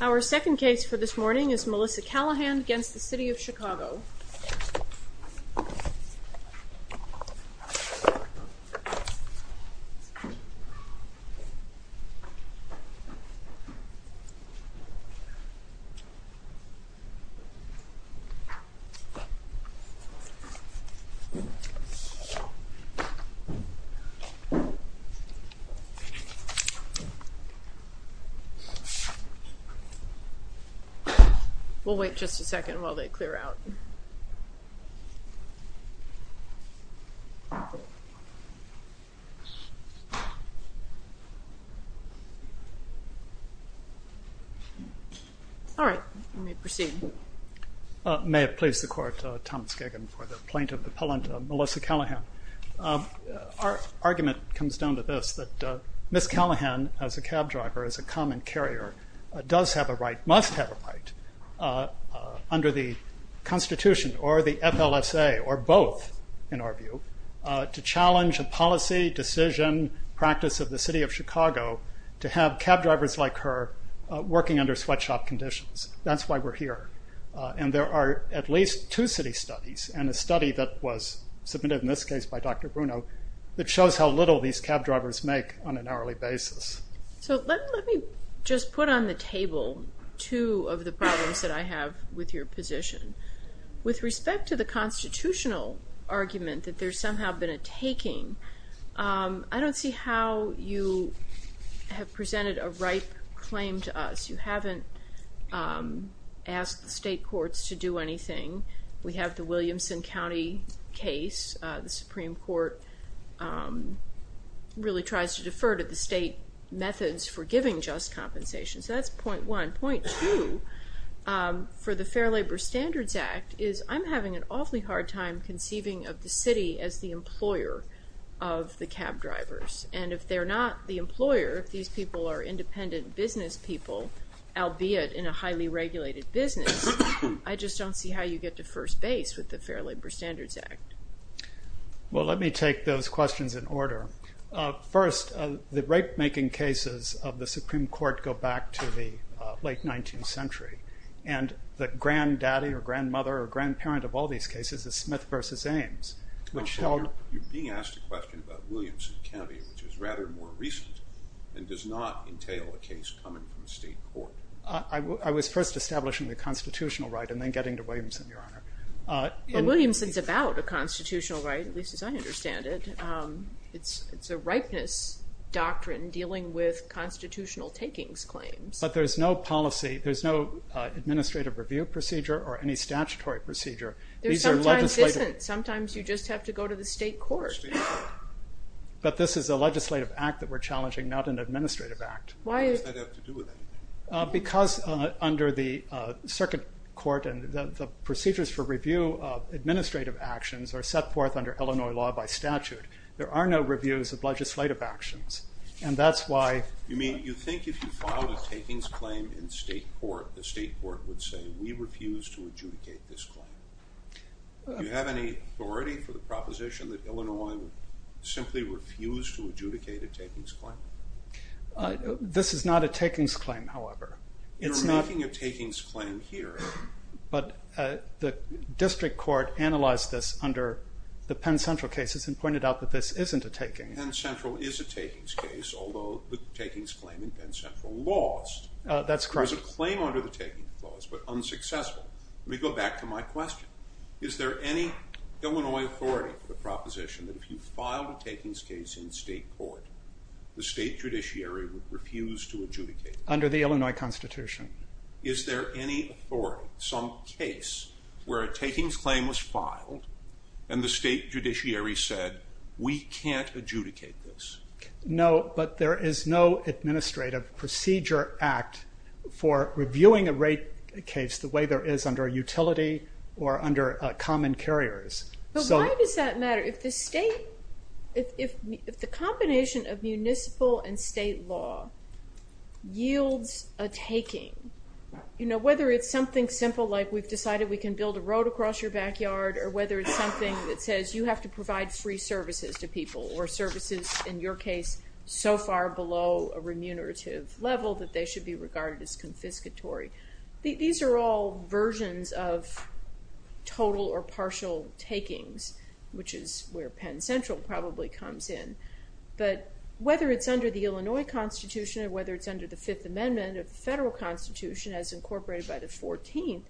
Our second case for this morning is Melissa Callahan against the City of Chicago. We'll wait just a second while they clear out. All right, we may proceed. May it please the Court, Thomas Giggin for the plaintiff appellant Melissa Callahan. Our argument comes down to this, that Ms. Callahan as a cab driver, as a common carrier, does have a right, must have a right, under the Constitution or the FLSA or both, in our view, to challenge a policy, decision, practice of the City of Chicago to have cab drivers like her working under sweatshop conditions. That's why we're here. And there are at least two city studies and a study that was submitted in this case by Dr. Bruno that shows how little these cab drivers make on an hourly basis. So let me just put on the table two of the problems that I have with your position. With respect to the constitutional argument that there's somehow been a taking, I don't see how you have presented a ripe claim to us. You haven't asked the state courts to do anything. We have the Williamson County case. The Supreme Court really tries to defer to the state methods for giving just compensation. So that's point one. And point two, for the Fair Labor Standards Act, is I'm having an awfully hard time conceiving of the city as the employer of the cab drivers. And if they're not the employer, if these people are independent business people, albeit in a highly regulated business, I just don't see how you get to first base with the Fair Labor Standards Act. Well, let me take those questions in order. First, the rape-making cases of the Supreme Court go back to the late 19th century. And the granddaddy or grandmother or grandparent of all these cases is Smith v. Ames, which held- You're being asked a question about Williamson County, which is rather more recent and does not entail a case coming from the state court. I was first establishing the constitutional right and then getting to Williamson, Your Honor. But Williamson's about a constitutional right, at least as I understand it. It's a rightness doctrine dealing with constitutional takings claims. But there's no policy. There's no administrative review procedure or any statutory procedure. There sometimes isn't. Sometimes you just have to go to the state court. But this is a legislative act that we're challenging, not an administrative act. Why does that have to do with anything? Because under the circuit court and the procedures for review of administrative actions are set forth under Illinois law by statute. There are no reviews of legislative actions. And that's why- You mean you think if you filed a takings claim in state court, the state court would say, we refuse to adjudicate this claim. Do you have any authority for the proposition that Illinois would simply refuse to adjudicate a takings claim? This is not a takings claim, however. You're making a takings claim here. But the district court analyzed this under the Penn Central cases and pointed out that this isn't a taking. Penn Central is a takings case, although the takings claim in Penn Central lost. That's correct. There was a claim under the taking clause, but unsuccessful. Let me go back to my question. Is there any Illinois authority for the proposition that if you filed a takings case in state court, the state judiciary would refuse to adjudicate? Under the Illinois Constitution. Is there any authority, some case, where a takings claim was filed and the state judiciary said, we can't adjudicate this? No, but there is no administrative procedure act for reviewing a rate case the way there is under a utility or under common carriers. But why does that matter? If the combination of municipal and state law yields a taking, whether it's something simple like we've decided we can build a road across your backyard, or whether it's something that says you have to provide free services to people, or services in your case so far below a remunerative level that they should be regarded as confiscatory. These are all versions of total or partial takings, which is where Penn Central probably comes in. But whether it's under the Illinois Constitution or whether it's under the Fifth Amendment of the Federal Constitution as incorporated by the 14th,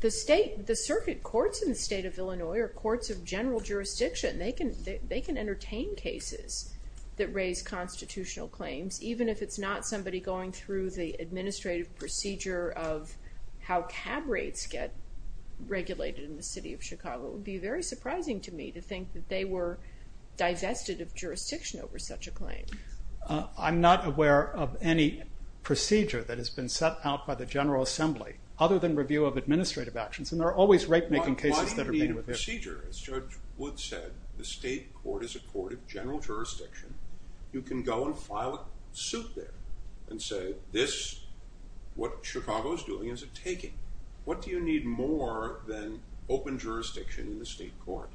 the circuit courts in the state of Illinois are courts of general jurisdiction. They can entertain cases that raise constitutional claims, even if it's not somebody going through the administrative procedure of how cab rates get regulated in the city of Chicago. It would be very surprising to me to think that they were divested of jurisdiction over such a claim. I'm not aware of any procedure that has been set out by the General Assembly other than review of administrative actions, and there are always rate-making cases that are being reviewed. Why do you need a procedure? As Judge Wood said, the state court is a court of general jurisdiction. You can go and file a suit there and say, what Chicago is doing is a taking. What do you need more than open jurisdiction in the state court?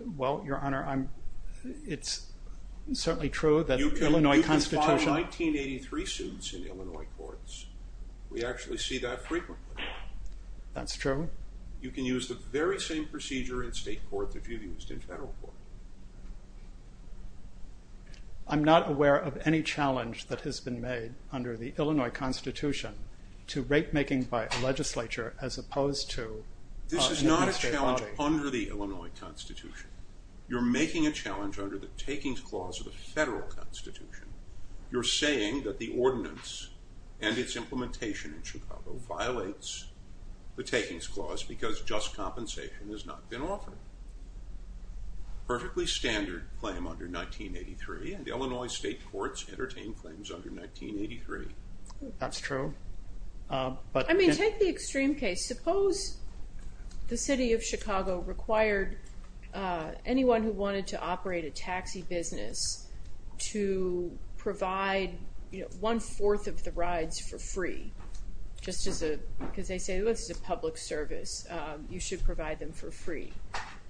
Well, Your Honor, it's certainly true that the Illinois Constitution- You can file 1983 suits in Illinois courts. We actually see that frequently. That's true. You can use the very same procedure in state court that you've used in general court. I'm not aware of any challenge that has been made under the Illinois Constitution to rate-making by a legislature as opposed to- This is not a challenge under the Illinois Constitution. You're making a challenge under the takings clause of the federal constitution. You're saying that the ordinance and its implementation in Chicago violates the takings clause because just compensation has not been offered. Perfectly standard claim under 1983, and Illinois state courts entertain claims under 1983. That's true. I mean, take the extreme case. Suppose the city of Chicago required anyone who wanted to operate a taxi business to provide one fourth of the rides for free, just because they say this is a public service. You should provide them for free.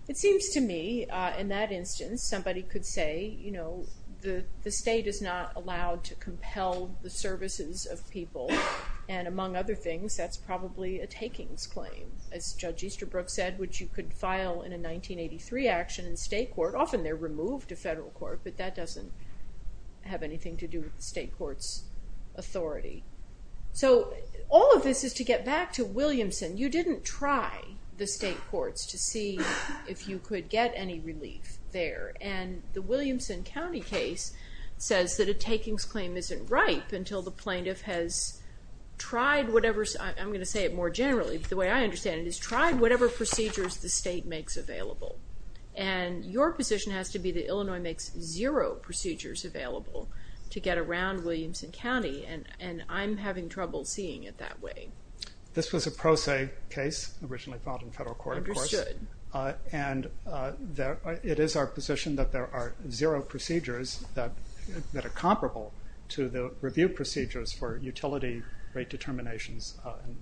It seems to me, in that instance, somebody could say, you know, the state is not allowed to compel the services of people. And among other things, that's probably a takings claim, as Judge Easterbrook said, which you could file in a 1983 action in state court. Often they're removed to federal court, but that doesn't have anything to do with the state court's authority. So all of this is to get back to Williamson. You didn't try the state courts to see if you could get any relief there. And the Williamson County case says that a takings claim isn't ripe until the plaintiff has tried whatever, I'm going to say it more generally, but the way I understand it is tried whatever procedures the state makes available. And your position has to be that Illinois makes zero procedures available to get around Williamson County. And I'm having trouble seeing it that way. This was a pro se case originally filed in federal court, of course. Understood. And it is our position that there are zero procedures that are comparable to the review procedures for utility rate determinations.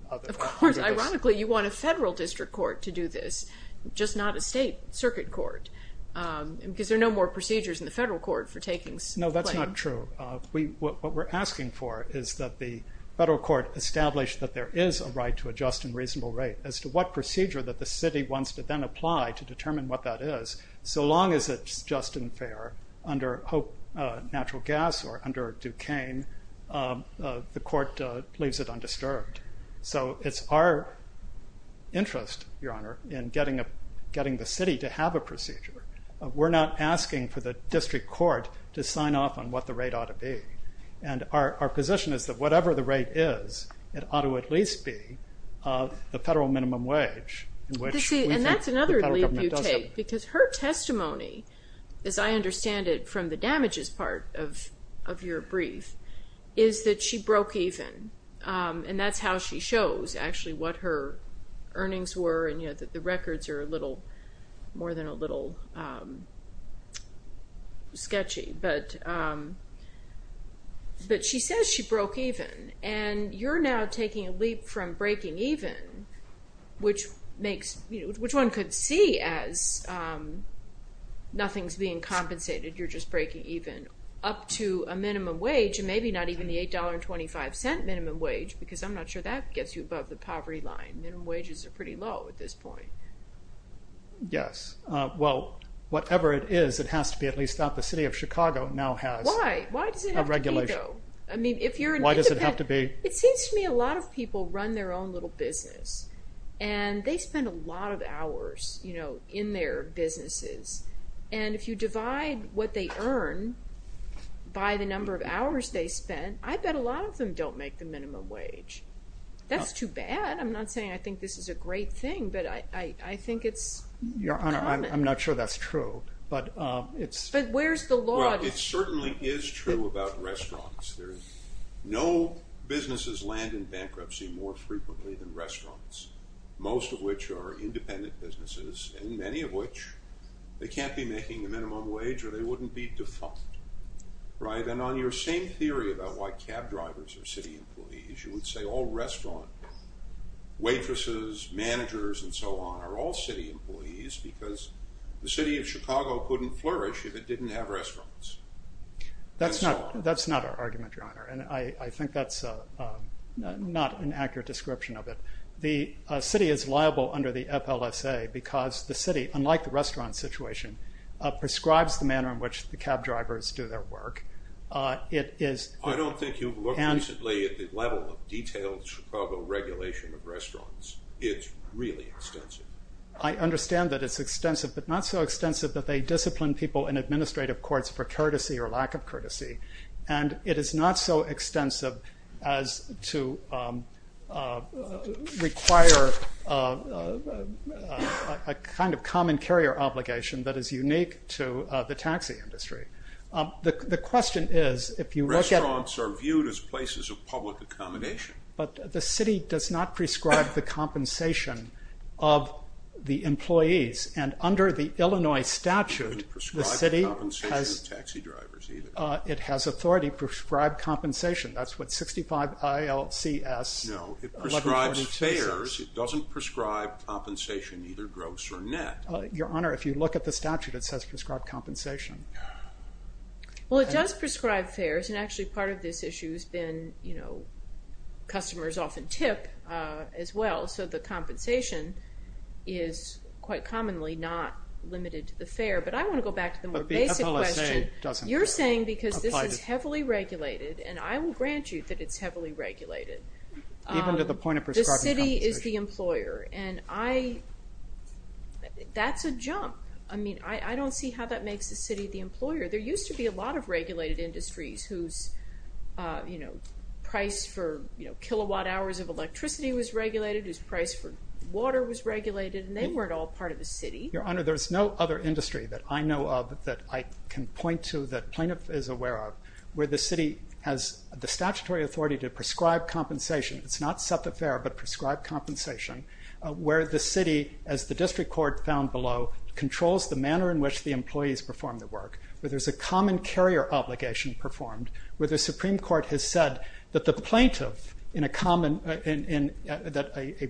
Of course, ironically, you want a federal district court to do this, just not a state circuit court, because there are no more procedures in the federal court for takings. No, that's not true. What we're asking for is that the federal court establish that there is a right to adjust in reasonable rate as to what procedure that the city wants to then apply to determine what that is, so long as it's just and fair under Hope Natural Gas or under Duquesne, the court leaves it undisturbed. So it's our interest, Your Honor, in getting the city to have a procedure. We're not asking for the district court to sign off on what the rate ought to be. And our position is that whatever the rate is, it ought to at least be the federal minimum wage. And that's another leap you take, because her testimony, as I understand it from the damages part of your brief, is that she broke even, and that's how she shows actually what her earnings were, and that the records are a little more than a little sketchy. But she says she broke even, and you're now taking a leap from breaking even, which one could see as nothing's being compensated, you're just breaking even, up to a minimum wage and maybe not even the $8.25 minimum wage, because I'm not sure that gets you above the poverty line. Minimum wages are pretty low at this point. Yes. Well, whatever it is, it has to be at least that the city of Chicago now has a regulation. Why? Why does it have to be, though? Why does it have to be? It seems to me a lot of people run their own little business, and they spend a lot of hours in their businesses. And if you divide what they earn by the number of hours they spend, I bet a lot of them don't make the minimum wage. That's too bad. I'm not saying I think this is a great thing, but I think it's common. Your Honor, I'm not sure that's true. But where's the law? Well, it certainly is true about restaurants. No businesses land in bankruptcy more frequently than restaurants, most of which are independent businesses, and many of which they can't be making a minimum wage or they wouldn't be defunct. And on your same theory about why cab drivers are city employees, you would say all restaurant waitresses, managers, and so on are all city employees because the city of Chicago couldn't flourish if it didn't have restaurants. That's not our argument, Your Honor, and I think that's not an accurate description of it. The city is liable under the FLSA because the city, unlike the restaurant situation, prescribes the manner in which the cab drivers do their work. I don't think you've looked recently at the level of detailed Chicago regulation of restaurants. It's really extensive. I understand that it's extensive, but not so extensive that they discipline people in administrative courts for courtesy or lack of courtesy, and it is not so extensive as to require a kind of common carrier obligation that is unique to the taxi industry. The question is if you look at... Restaurants are viewed as places of public accommodation. But the city does not prescribe the compensation of the employees, and under the Illinois statute, the city has... It doesn't prescribe compensation to taxi drivers either. It has authority to prescribe compensation. That's what 65 ILCS 1142 says. No, it prescribes fares. It doesn't prescribe compensation, either gross or net. Your Honor, if you look at the statute, it says prescribe compensation. Well, it does prescribe fares, and actually part of this issue has been customers often tip as well, so the compensation is quite commonly not limited to the fare. But I want to go back to the more basic question. But the FLSA doesn't apply to... You're saying because this is heavily regulated, and I will grant you that it's heavily regulated. Even to the point of prescribing compensation. The city is the employer, and that's a jump. I mean, I don't see how that makes the city the employer. There used to be a lot of regulated industries whose price for kilowatt hours of electricity was regulated, whose price for water was regulated, and they weren't all part of the city. Your Honor, there's no other industry that I know of that I can point to that plaintiff is aware of where the city has the statutory authority to prescribe compensation. It's not set the fare, but prescribe compensation, where the city, as the district court found below, controls the manner in which the employees perform their work, where there's a common carrier obligation performed, where the Supreme Court has said that the plaintiff in a common... that a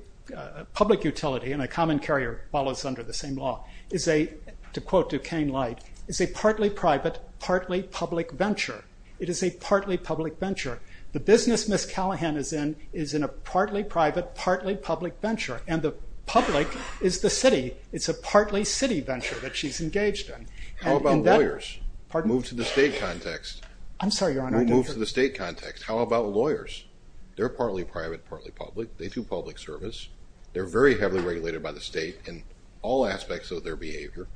public utility in a common carrier follows under the same law, is a, to quote Duquesne Light, is a partly private, partly public venture. It is a partly public venture. The business Miss Callahan is in is in a partly private, partly public venture, and the public is the city. It's a partly city venture that she's engaged in. How about lawyers? Move to the state context. I'm sorry, Your Honor. Move to the state context. How about lawyers? They're partly private, partly public. They do public service. They're very heavily regulated by the state in all aspects of their behavior.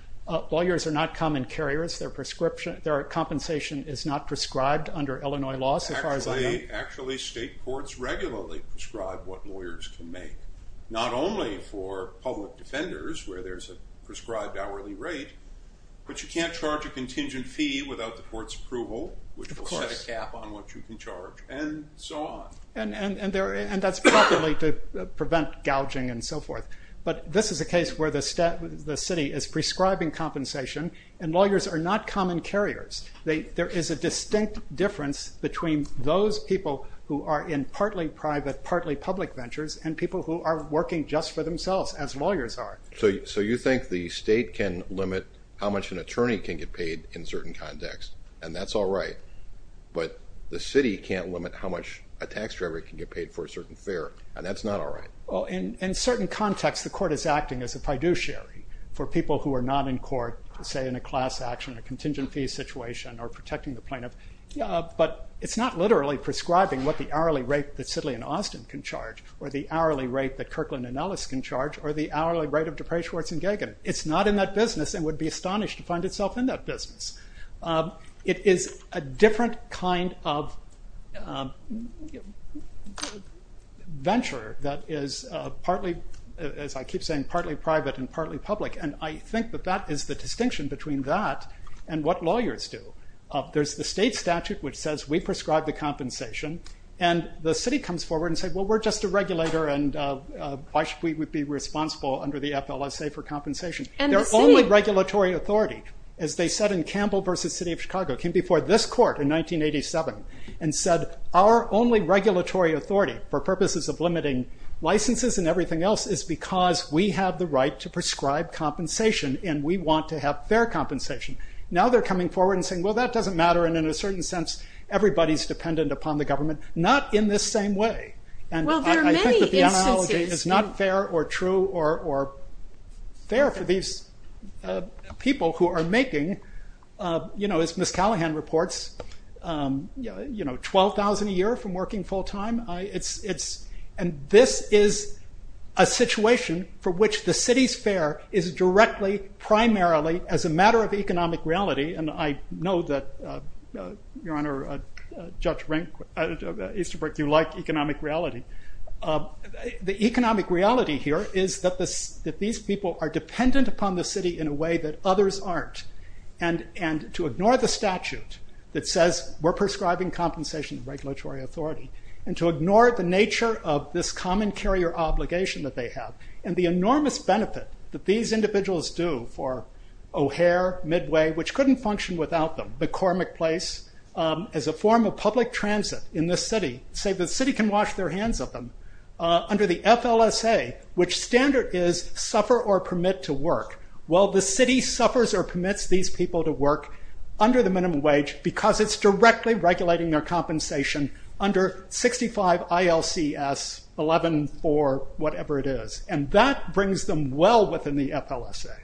Lawyers are not common carriers. Their compensation is not prescribed under Illinois law, so far as I know. Actually, state courts regularly prescribe what lawyers can make, not only for public defenders, where there's a prescribed hourly rate, but you can't charge a contingent fee without the court's approval, which will set a cap on what you can charge, and so on. And that's probably to prevent gouging and so forth. But this is a case where the city is prescribing compensation, and lawyers are not common carriers. There is a distinct difference between those people who are in partly private, partly public ventures and people who are working just for themselves, as lawyers are. So you think the state can limit how much an attorney can get paid in certain contexts, and that's all right. But the city can't limit how much a tax driver can get paid for a certain fare, and that's not all right. In certain contexts, the court is acting as a fiduciary for people who are not in court, say in a class action, a contingent fee situation, or protecting the plaintiff. But it's not literally prescribing what the hourly rate that Sidley & Austin can charge, or the hourly rate that Kirkland & Ellis can charge, or the hourly rate of DePray, Schwartz & Gagin. It's not in that business, and would be astonished to find itself in that business. It is a different kind of venture that is partly, as I keep saying, partly private and partly public, and I think that that is the distinction between that and what lawyers do. There's the state statute which says we prescribe the compensation, and the city comes forward and says, well, we're just a regulator, and why should we be responsible under the FLSA for compensation? Their only regulatory authority, as they said in Campbell v. City of Chicago, came before this court in 1987, and said our only regulatory authority for purposes of limiting licenses and everything else is because we have the right to prescribe compensation, and we want to have fair compensation. Now they're coming forward and saying, well, that doesn't matter, and in a certain sense everybody's dependent upon the government. Not in this same way. I think that the analogy is not fair or true or fair for these people who are making, as Ms. Callahan reports, 12,000 a year from working full time. This is a situation for which the city's fair is directly primarily as a matter of economic reality, and I know that, Your Honor, Judge Easterbrook, you like economic reality. The economic reality here is that these people are dependent upon the city in a way that others aren't, and to ignore the statute that says we're prescribing compensation, regulatory authority, and to ignore the nature of this common carrier obligation that they have, and the enormous benefit that these individuals do for O'Hare, Midway, which couldn't function without them, McCormick Place, as a form of public transit in this city, say the city can wash their hands of them, under the FLSA, which standard is suffer or permit to work. Well, the city suffers or permits these people to work under the minimum wage because it's directly regulating their compensation under 65 ILCS 114 whatever it is, and that brings them well within the FLSA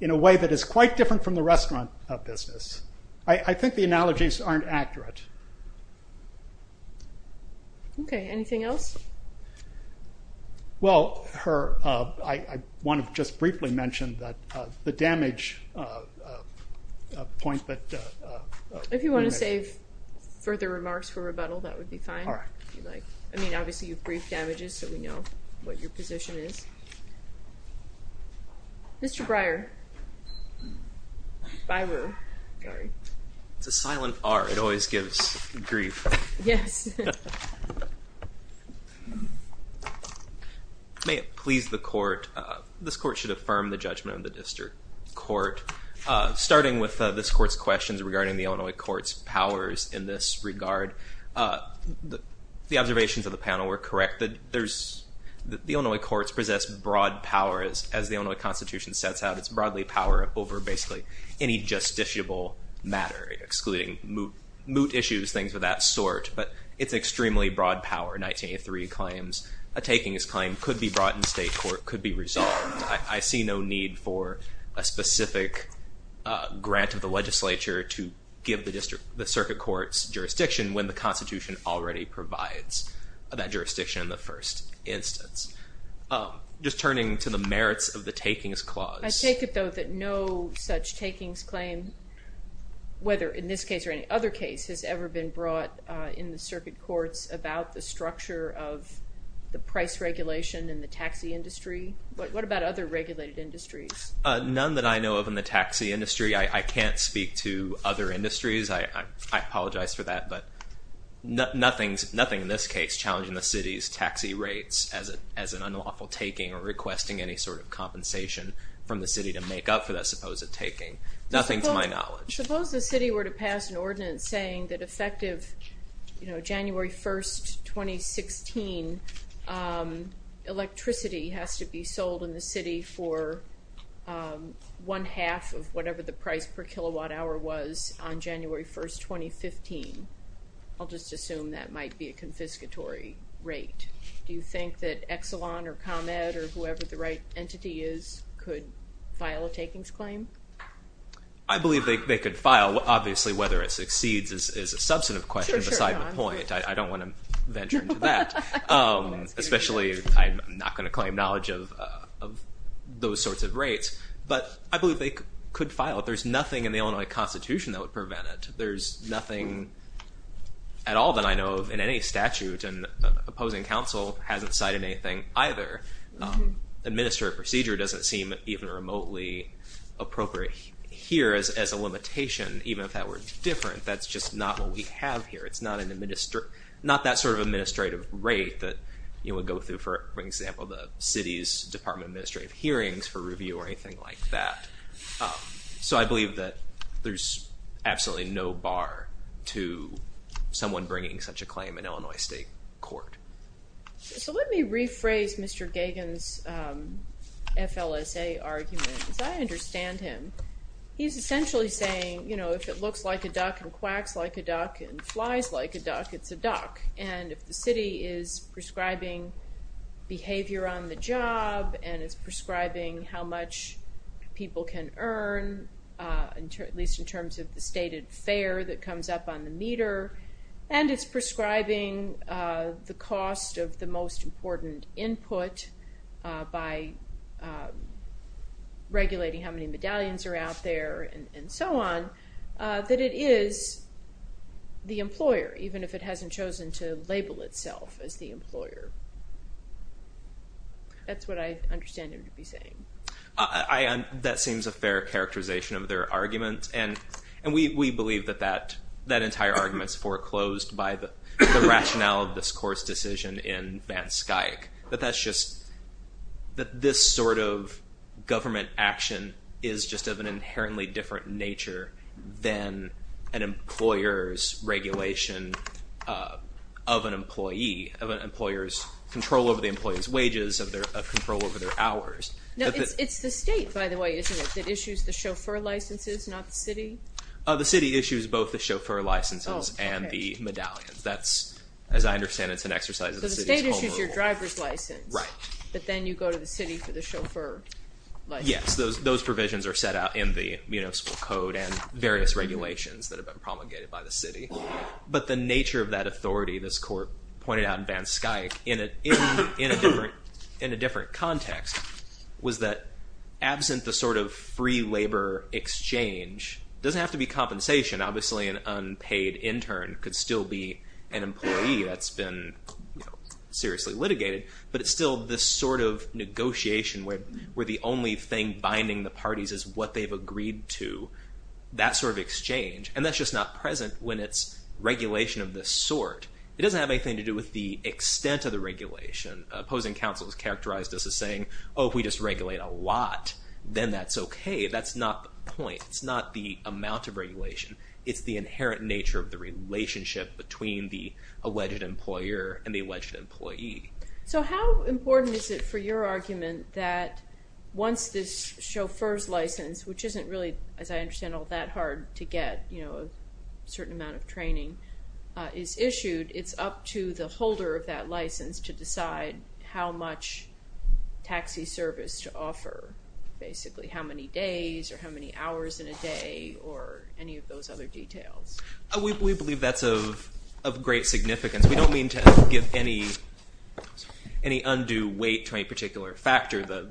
in a way that is quite different from the restaurant business. I think the analogies aren't accurate. Okay, anything else? Well, I want to just briefly mention that the damage point that- If you want to save further remarks for rebuttal, that would be fine. I mean, obviously, you've briefed damages, so we know what your position is. Mr. Breyer. It's a silent R. It always gives grief. Yes. May it please the court, this court should affirm the judgment of the district court. Starting with this court's questions regarding the Illinois court's powers in this regard, the observations of the panel were correct. The Illinois courts possess broad powers. As the Illinois Constitution sets out, it's broadly power over basically any justiciable matter, excluding moot issues, things of that sort, but it's extremely broad power. 1983 claims, a takings claim could be brought in state court, could be resolved. I see no need for a specific grant of the legislature to give the circuit court's jurisdiction when the Constitution already provides that jurisdiction in the first instance. Just turning to the merits of the takings clause. I take it, though, that no such takings claim, whether in this case or any other case, has ever been brought in the circuit courts about the structure of the price regulation in the taxi industry. What about other regulated industries? None that I know of in the taxi industry. I can't speak to other industries. I apologize for that, but nothing in this case challenging the city's taxi rates as an unlawful taking or requesting any sort of compensation from the city to make up for that supposed taking. Nothing to my knowledge. Suppose the city were to pass an ordinance saying that effective January 1, 2016, electricity has to be sold in the city for one half of whatever the price per kilowatt hour was on January 1, 2015. I'll just assume that might be a confiscatory rate. Do you think that Exelon or ComEd or whoever the right entity is could file a takings claim? I believe they could file. Obviously, whether it succeeds is a substantive question beside the point. I don't want to venture into that, especially I'm not going to claim knowledge of those sorts of rates. But I believe they could file. There's nothing in the Illinois Constitution that would prevent it. There's nothing at all that I know of in any statute. And opposing counsel hasn't cited anything either. Administrative procedure doesn't seem even remotely appropriate here as a limitation, even if that were different. That's just not what we have here. It's not that sort of administrative rate that you would go through, for example, the city's Department of Administrative Hearings for review or anything like that. So I believe that there's absolutely no bar to someone bringing such a claim in Illinois state court. So let me rephrase Mr. Gagin's FLSA argument, because I understand him. He's essentially saying, you know, if it looks like a duck and quacks like a duck and flies like a duck, it's a duck. And if the city is prescribing behavior on the job and is prescribing how much people can earn, at least in terms of the stated fare that comes up on the meter, and it's prescribing the cost of the most important input by regulating how many medallions are out there and so on, that it is the employer, even if it hasn't chosen to label itself as the employer. That's what I understand him to be saying. That seems a fair characterization of their argument. And we believe that that entire argument is foreclosed by the rationale of this court's decision in Van Skuyck, that this sort of government action is just of an inherently different nature than an employer's regulation of an employee, of an employer's control over the employee's wages, of control over their hours. No, it's the state, by the way, isn't it, that issues the chauffeur licenses, not the city? The city issues both the chauffeur licenses and the medallions. That's, as I understand it, it's an exercise of the city's overrule. So the state issues your driver's license. Right. But then you go to the city for the chauffeur license. Yes, those provisions are set out in the municipal code and various regulations that have been promulgated by the city. But the nature of that authority, this court pointed out in Van Skuyck, in a different context, was that absent the sort of free labor exchange, doesn't have to be compensation. Obviously, an unpaid intern could still be an employee that's been seriously litigated. But it's still this sort of negotiation where the only thing binding the parties is what they've agreed to, that sort of exchange. And that's just not present when it's regulation of this sort. It doesn't have anything to do with the extent of the regulation. Opposing counsel has characterized this as saying, oh, if we just regulate a lot, then that's okay. That's not the point. It's not the amount of regulation. It's the inherent nature of the relationship between the alleged employer and the alleged employee. So how important is it for your argument that once this chauffeur's license, which isn't really, as I understand, all that hard to get, you know, a certain amount of training is issued, it's up to the holder of that license to decide how much taxi service to offer, basically how many days or how many hours in a day or any of those other details? We believe that's of great significance. We don't mean to give any undue weight to any particular factor. The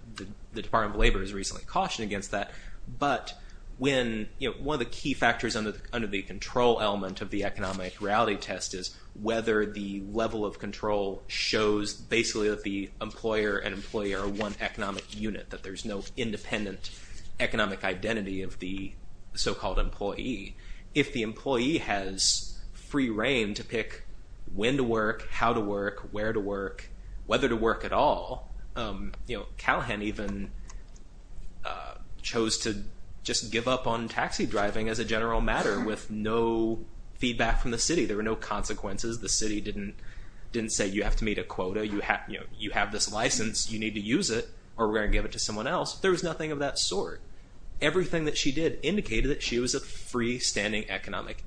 Department of Labor has recently cautioned against that. But when, you know, one of the key factors under the control element of the economic reality test is whether the level of control shows basically that the employer and employee are one economic unit, that there's no independent economic identity of the so-called employee. If the employee has free reign to pick when to work, how to work, where to work, whether to work at all. You know, Callahan even chose to just give up on taxi driving as a general matter with no feedback from the city. There were no consequences. The city didn't didn't say you have to meet a quota. You have you have this license. You need to use it or we're going to give it to someone else. There was nothing of that sort. Everything that she did indicated that she was a freestanding economic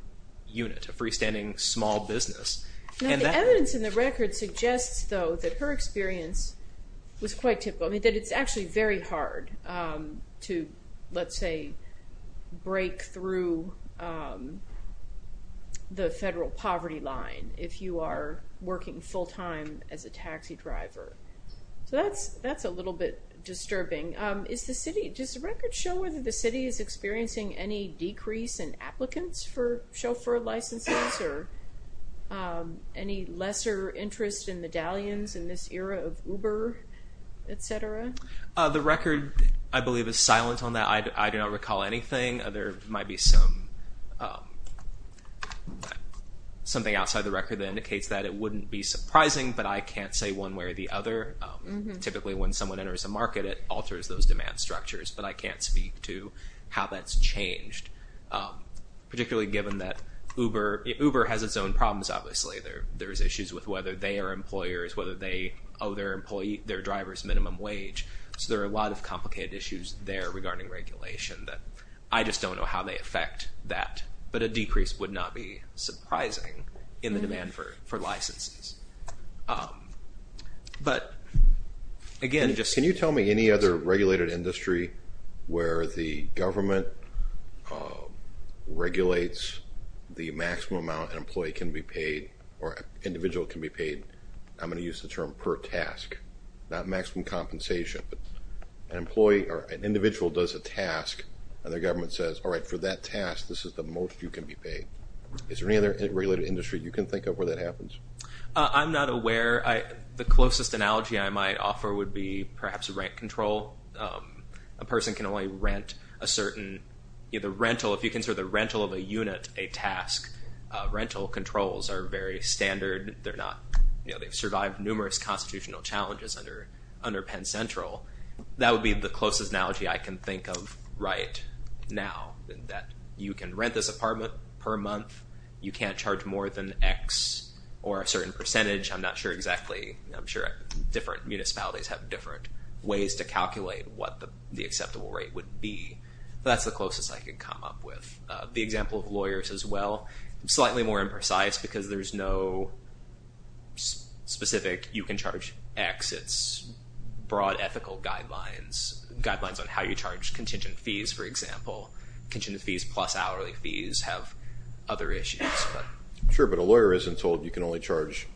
unit, a freestanding small business. And the evidence in the record suggests, though, that her experience was quite typical. I mean, that it's actually very hard to, let's say, break through the federal poverty line if you are working full time as a taxi driver. So that's that's a little bit disturbing. Is the city, does the record show whether the city is experiencing any decrease in applicants for chauffeur licenses or any lesser interest in medallions in this era of Uber, etc.? The record, I believe, is silent on that. I do not recall anything. There might be some something outside the record that indicates that. It wouldn't be surprising, but I can't say one way or the other. Typically, when someone enters a market, it alters those demand structures. But I can't speak to how that's changed, particularly given that Uber, Uber has its own problems. Obviously, there there is issues with whether they are employers, whether they owe their employee their driver's minimum wage. So there are a lot of complicated issues there regarding regulation that I just don't know how they affect that. But a decrease would not be surprising in the demand for for licenses. But again, just can you tell me any other regulated industry where the government regulates the maximum amount an employee can be paid or individual can be paid? I'm going to use the term per task, not maximum compensation. An employee or an individual does a task and the government says, all right, for that task, this is the most you can be paid. Is there any other regulated industry you can think of where that happens? I'm not aware. The closest analogy I might offer would be perhaps rent control. A person can only rent a certain either rental if you consider the rental of a unit. A task rental controls are very standard. They're not they've survived numerous constitutional challenges under under Penn Central. That would be the closest analogy I can think of right now that you can rent this apartment per month. You can't charge more than X or a certain percentage. I'm not sure exactly. I'm sure different municipalities have different ways to calculate what the acceptable rate would be. That's the closest I could come up with the example of lawyers as well. Slightly more imprecise because there's no specific you can charge X. It's broad ethical guidelines, guidelines on how you charge contingent fees, for example. Contingent fees plus hourly fees have other issues. Sure, but a lawyer isn't told you can only charge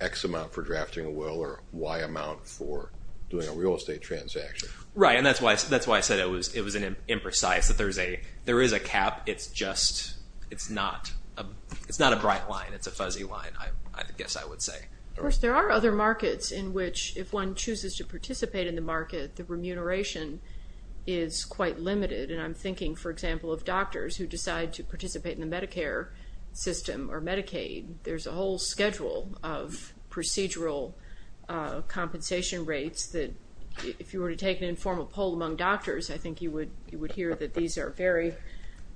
X amount for drafting a will or Y amount for doing a real estate transaction. Right. And that's why that's why I said it was it was an imprecise that there's a there is a cap. It's just it's not it's not a bright line. It's a fuzzy line. I guess I would say there are other markets in which if one chooses to participate in the market, the remuneration is quite limited. And I'm thinking, for example, of doctors who decide to participate in the Medicare system or Medicaid. There's a whole schedule of procedural compensation rates that if you were to take an informal poll among doctors, I think you would you would hear that these are very,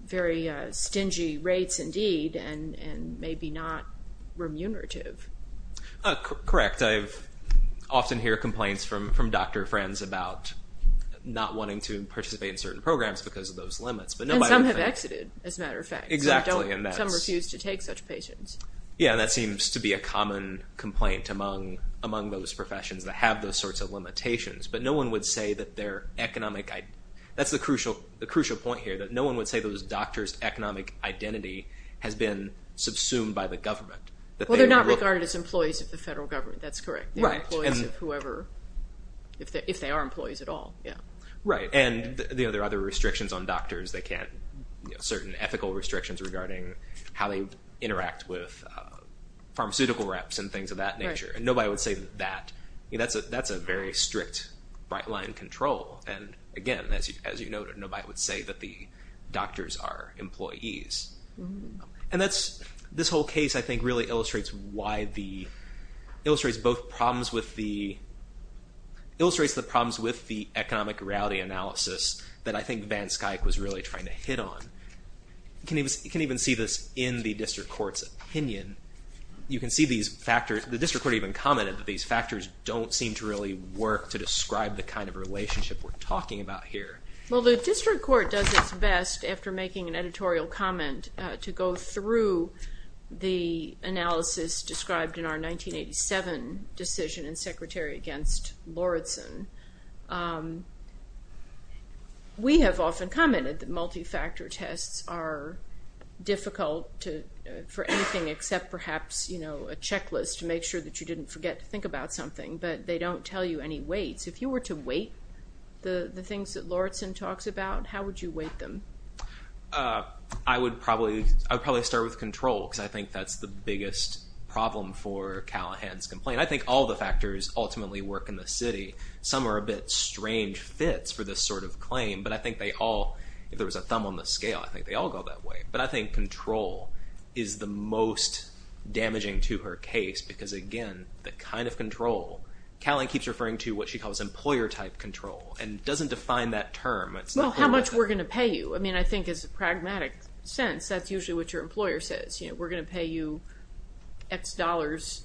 very stingy rates indeed, and maybe not remunerative. Correct. I've often hear complaints from from doctor friends about not wanting to participate in certain programs because of those limits. But some have exited, as a matter of fact. Exactly. And some refuse to take such patients. Yeah, that seems to be a common complaint among among those professions that have those sorts of limitations. But no one would say that their economic. That's the crucial the crucial point here, that no one would say those doctors' economic identity has been subsumed by the government. Well, they're not regarded as employees of the federal government. That's correct. Right. And whoever, if they are employees at all. Yeah. Right. And there are other restrictions on doctors. They can't certain ethical restrictions regarding how they interact with pharmaceutical reps and things of that nature. And nobody would say that. That's a that's a very strict bright line control. And again, as you as you noted, nobody would say that the doctors are employees. And that's this whole case, I think, really illustrates why the illustrates both problems with the illustrates the problems with the economic reality analysis that I think Van Skuyck was really trying to hit on. Can you can even see this in the district court's opinion? You can see these factors. The district court even commented that these factors don't seem to really work to describe the kind of relationship we're talking about here. Well, the district court does its best after making an editorial comment to go through the analysis described in our 1987 decision in Secretary against Lauritsen. We have often commented that multifactor tests are difficult to for anything except perhaps, you know, a checklist to make sure that you didn't forget to think about something. But they don't tell you any weights. If you were to weight the things that Lauritsen talks about, how would you weight them? I would probably I would probably start with control because I think that's the biggest problem for Callahan's complaint. And I think all the factors ultimately work in the city. Some are a bit strange fits for this sort of claim. But I think they all if there was a thumb on the scale, I think they all go that way. But I think control is the most damaging to her case because, again, the kind of control Callahan keeps referring to what she calls employer type control and doesn't define that term. Well, how much we're going to pay you, I mean, I think is a pragmatic sense. That's usually what your employer says. You know, we're going to pay you X dollars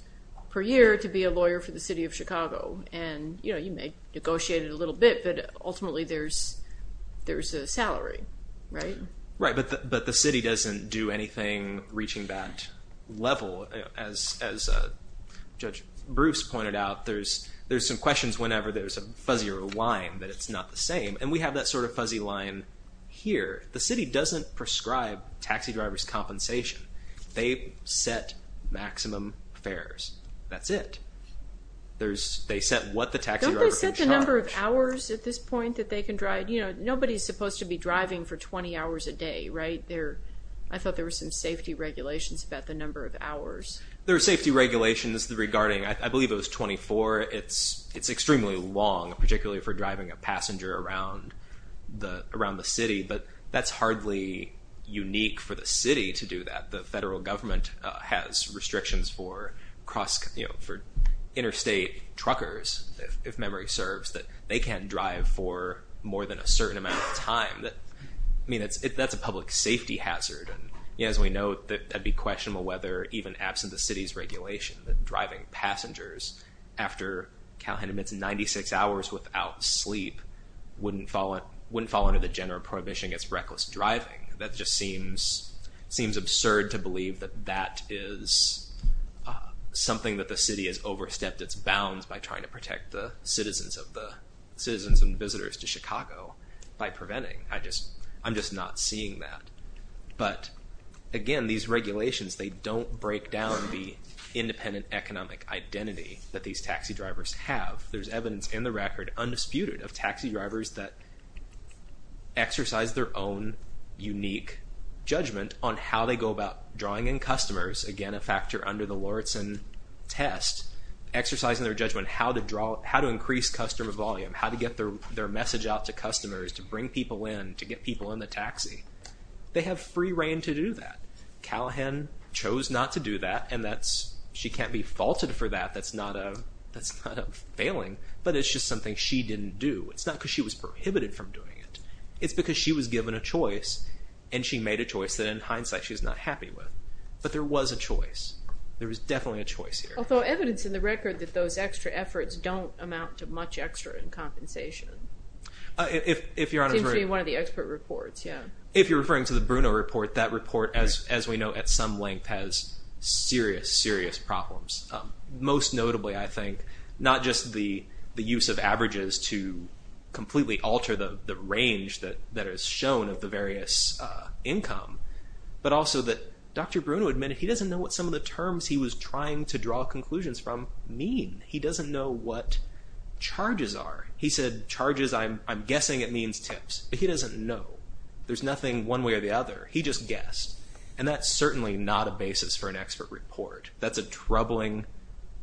per year to be a lawyer for the city of Chicago. And, you know, you may negotiate it a little bit, but ultimately there's there's a salary, right? Right. But the city doesn't do anything reaching that level. As Judge Bruce pointed out, there's there's some questions whenever there's a fuzzier line that it's not the same. And we have that sort of fuzzy line here. The city doesn't prescribe taxi drivers compensation. They set maximum fares. That's it. There's they set what the taxi driver can charge. Don't they set the number of hours at this point that they can drive? You know, nobody's supposed to be driving for 20 hours a day, right there. I thought there were some safety regulations about the number of hours. There are safety regulations regarding I believe it was 24. It's it's extremely long, particularly for driving a passenger around the around the city. But that's hardly unique for the city to do that. The federal government has restrictions for cross for interstate truckers, if memory serves, that they can't drive for more than a certain amount of time. I mean, that's that's a public safety hazard. And as we know, that that'd be questionable, whether even absent the city's regulation, that driving passengers after Calhoun admits 96 hours without sleep wouldn't fall, wouldn't fall under the general prohibition against reckless driving. That just seems seems absurd to believe that that is something that the city has overstepped its bounds by trying to protect the citizens of the citizens and visitors to Chicago by preventing. I just I'm just not seeing that. But again, these regulations, they don't break down the independent economic identity that these taxi drivers have. There's evidence in the record undisputed of taxi drivers that exercise their own unique judgment on how they go about drawing in customers. Again, a factor under the Lawrence and test exercising their judgment, how to draw, how to increase customer volume, how to get their their message out to customers, to bring people in, to get people in the taxi. They have free rein to do that. Calhoun chose not to do that. And that's she can't be faulted for that. That's not a that's not a failing, but it's just something she didn't do. It's not because she was prohibited from doing it. It's because she was given a choice and she made a choice that in hindsight she's not happy with. But there was a choice. There was definitely a choice here. Although evidence in the record that those extra efforts don't amount to much extra in compensation. If you're one of the expert reports, if you're referring to the Bruno report, that report, as we know, at some length has serious, serious problems. Most notably, I think not just the the use of averages to completely alter the range that that is shown of the various income, but also that Dr. Bruno admitted he doesn't know what some of the terms he was trying to draw conclusions from mean. He doesn't know what charges are. He said charges. I'm I'm guessing it means tips, but he doesn't know. There's nothing one way or the other. He just guessed. And that's certainly not a basis for an expert report. That's a troubling,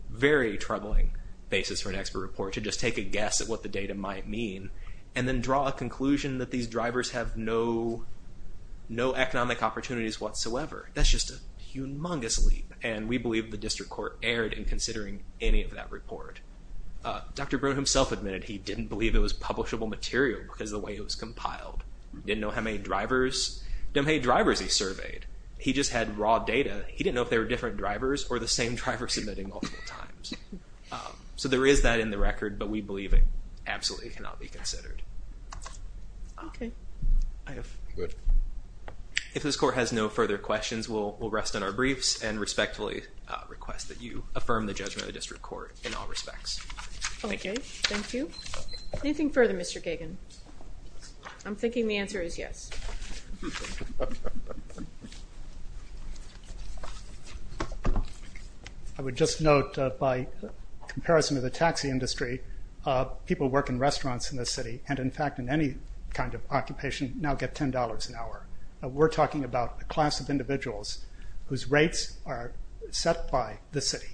very troubling basis for an expert report to just take a guess at what the data might mean and then draw a conclusion that these drivers have no, no economic opportunities whatsoever. That's just a humongous leap. And we believe the district court erred in considering any of that report. Dr. Bruno himself admitted he didn't believe it was publishable material because the way it was compiled, didn't know how many drivers, how many drivers he surveyed. He just had raw data. He didn't know if they were different drivers or the same driver submitting multiple times. So there is that in the record, but we believe it absolutely cannot be considered. If this court has no further questions, we'll rest on our briefs and respectfully request that you affirm the judgment of the district court in all respects. Thank you. Anything further, Mr. Gagan? I'm thinking the answer is yes. I would just note by comparison of the taxi industry, people who work in restaurants in this city and in fact in any kind of occupation now get $10 an hour. We're talking about a class of individuals whose rates are set by the city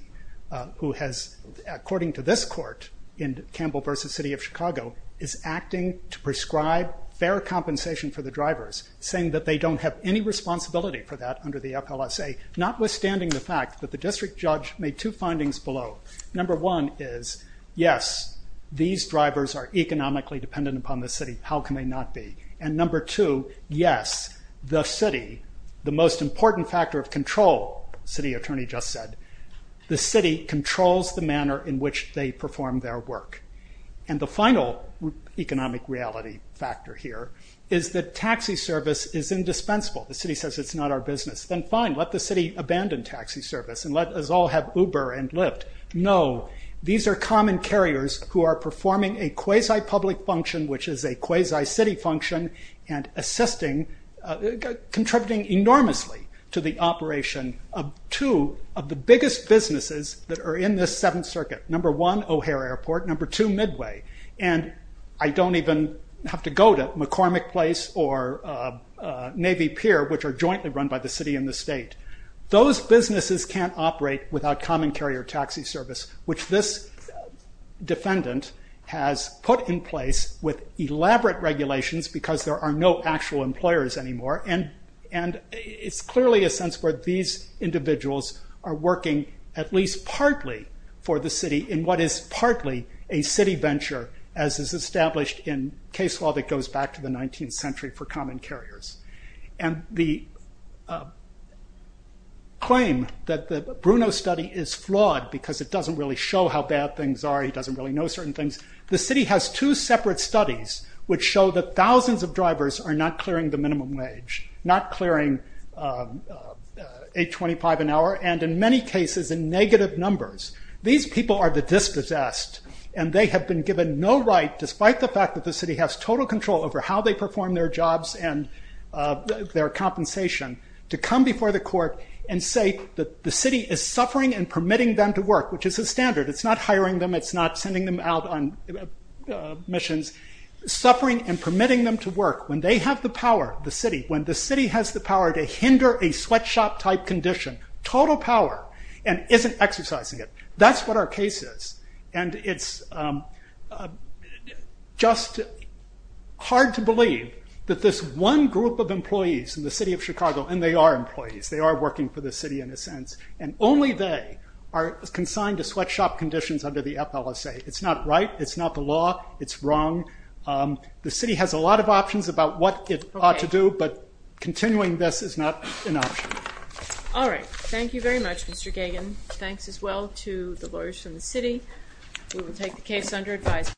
who has, according to this court, in Campbell versus City of Chicago, is acting to prescribe fair compensation for the drivers, saying that they don't have any responsibility for that under the FLSA, notwithstanding the fact that the district judge made two findings below. Number one is yes, these drivers are economically dependent upon the city. How can they not be? And number two, yes, the city, the most important factor of control, city attorney just said, the city controls the manner in which they perform their work. And the final economic reality factor here is that taxi service is indispensable. The city says it's not our business. Then fine, let the city abandon taxi service and let us all have Uber and Lyft. No, these are common carriers who are performing a quasi-public function, which is a quasi-city function, and assisting, contributing enormously to the operation of two of the biggest businesses that are in this Seventh Circuit. Number one, O'Hare Airport. Number two, Midway. And I don't even have to go to McCormick Place or Navy Pier, which are jointly run by the city and the state. Those businesses can't operate without common carrier taxi service, which this defendant has put in place with elaborate regulations because there are no actual employers anymore. And it's clearly a sense where these individuals are working at least partly for the city in what is partly a city venture, as is established in case law that goes back to the 19th century for common carriers. And the claim that the Bruno study is flawed because it doesn't really show how bad things are, it doesn't really know certain things. The city has two separate studies which show that thousands of drivers are not clearing the minimum wage, not clearing 8.25 an hour, and in many cases in negative numbers. These people are the dispossessed, and they have been given no right, despite the fact that the city has total control over how they perform their jobs and their compensation, to come before the court and say that the city is suffering and permitting them to work, which is a standard. It's not hiring them, it's not sending them out on missions. Suffering and permitting them to work when they have the power, the city, when the city has the power to hinder a sweatshop-type condition, total power, and isn't exercising it. That's what our case is, and it's just hard to believe that this one group of employees in the city of Chicago, and they are employees, they are working for the city in a sense, and only they are consigned to sweatshop conditions under the FLSA. It's not right, it's not the law, it's wrong. The city has a lot of options about what it ought to do, but continuing this is not an option. All right, thank you very much, Mr. Kagan. Thanks as well to the lawyers from the city. We will take the case under advisement.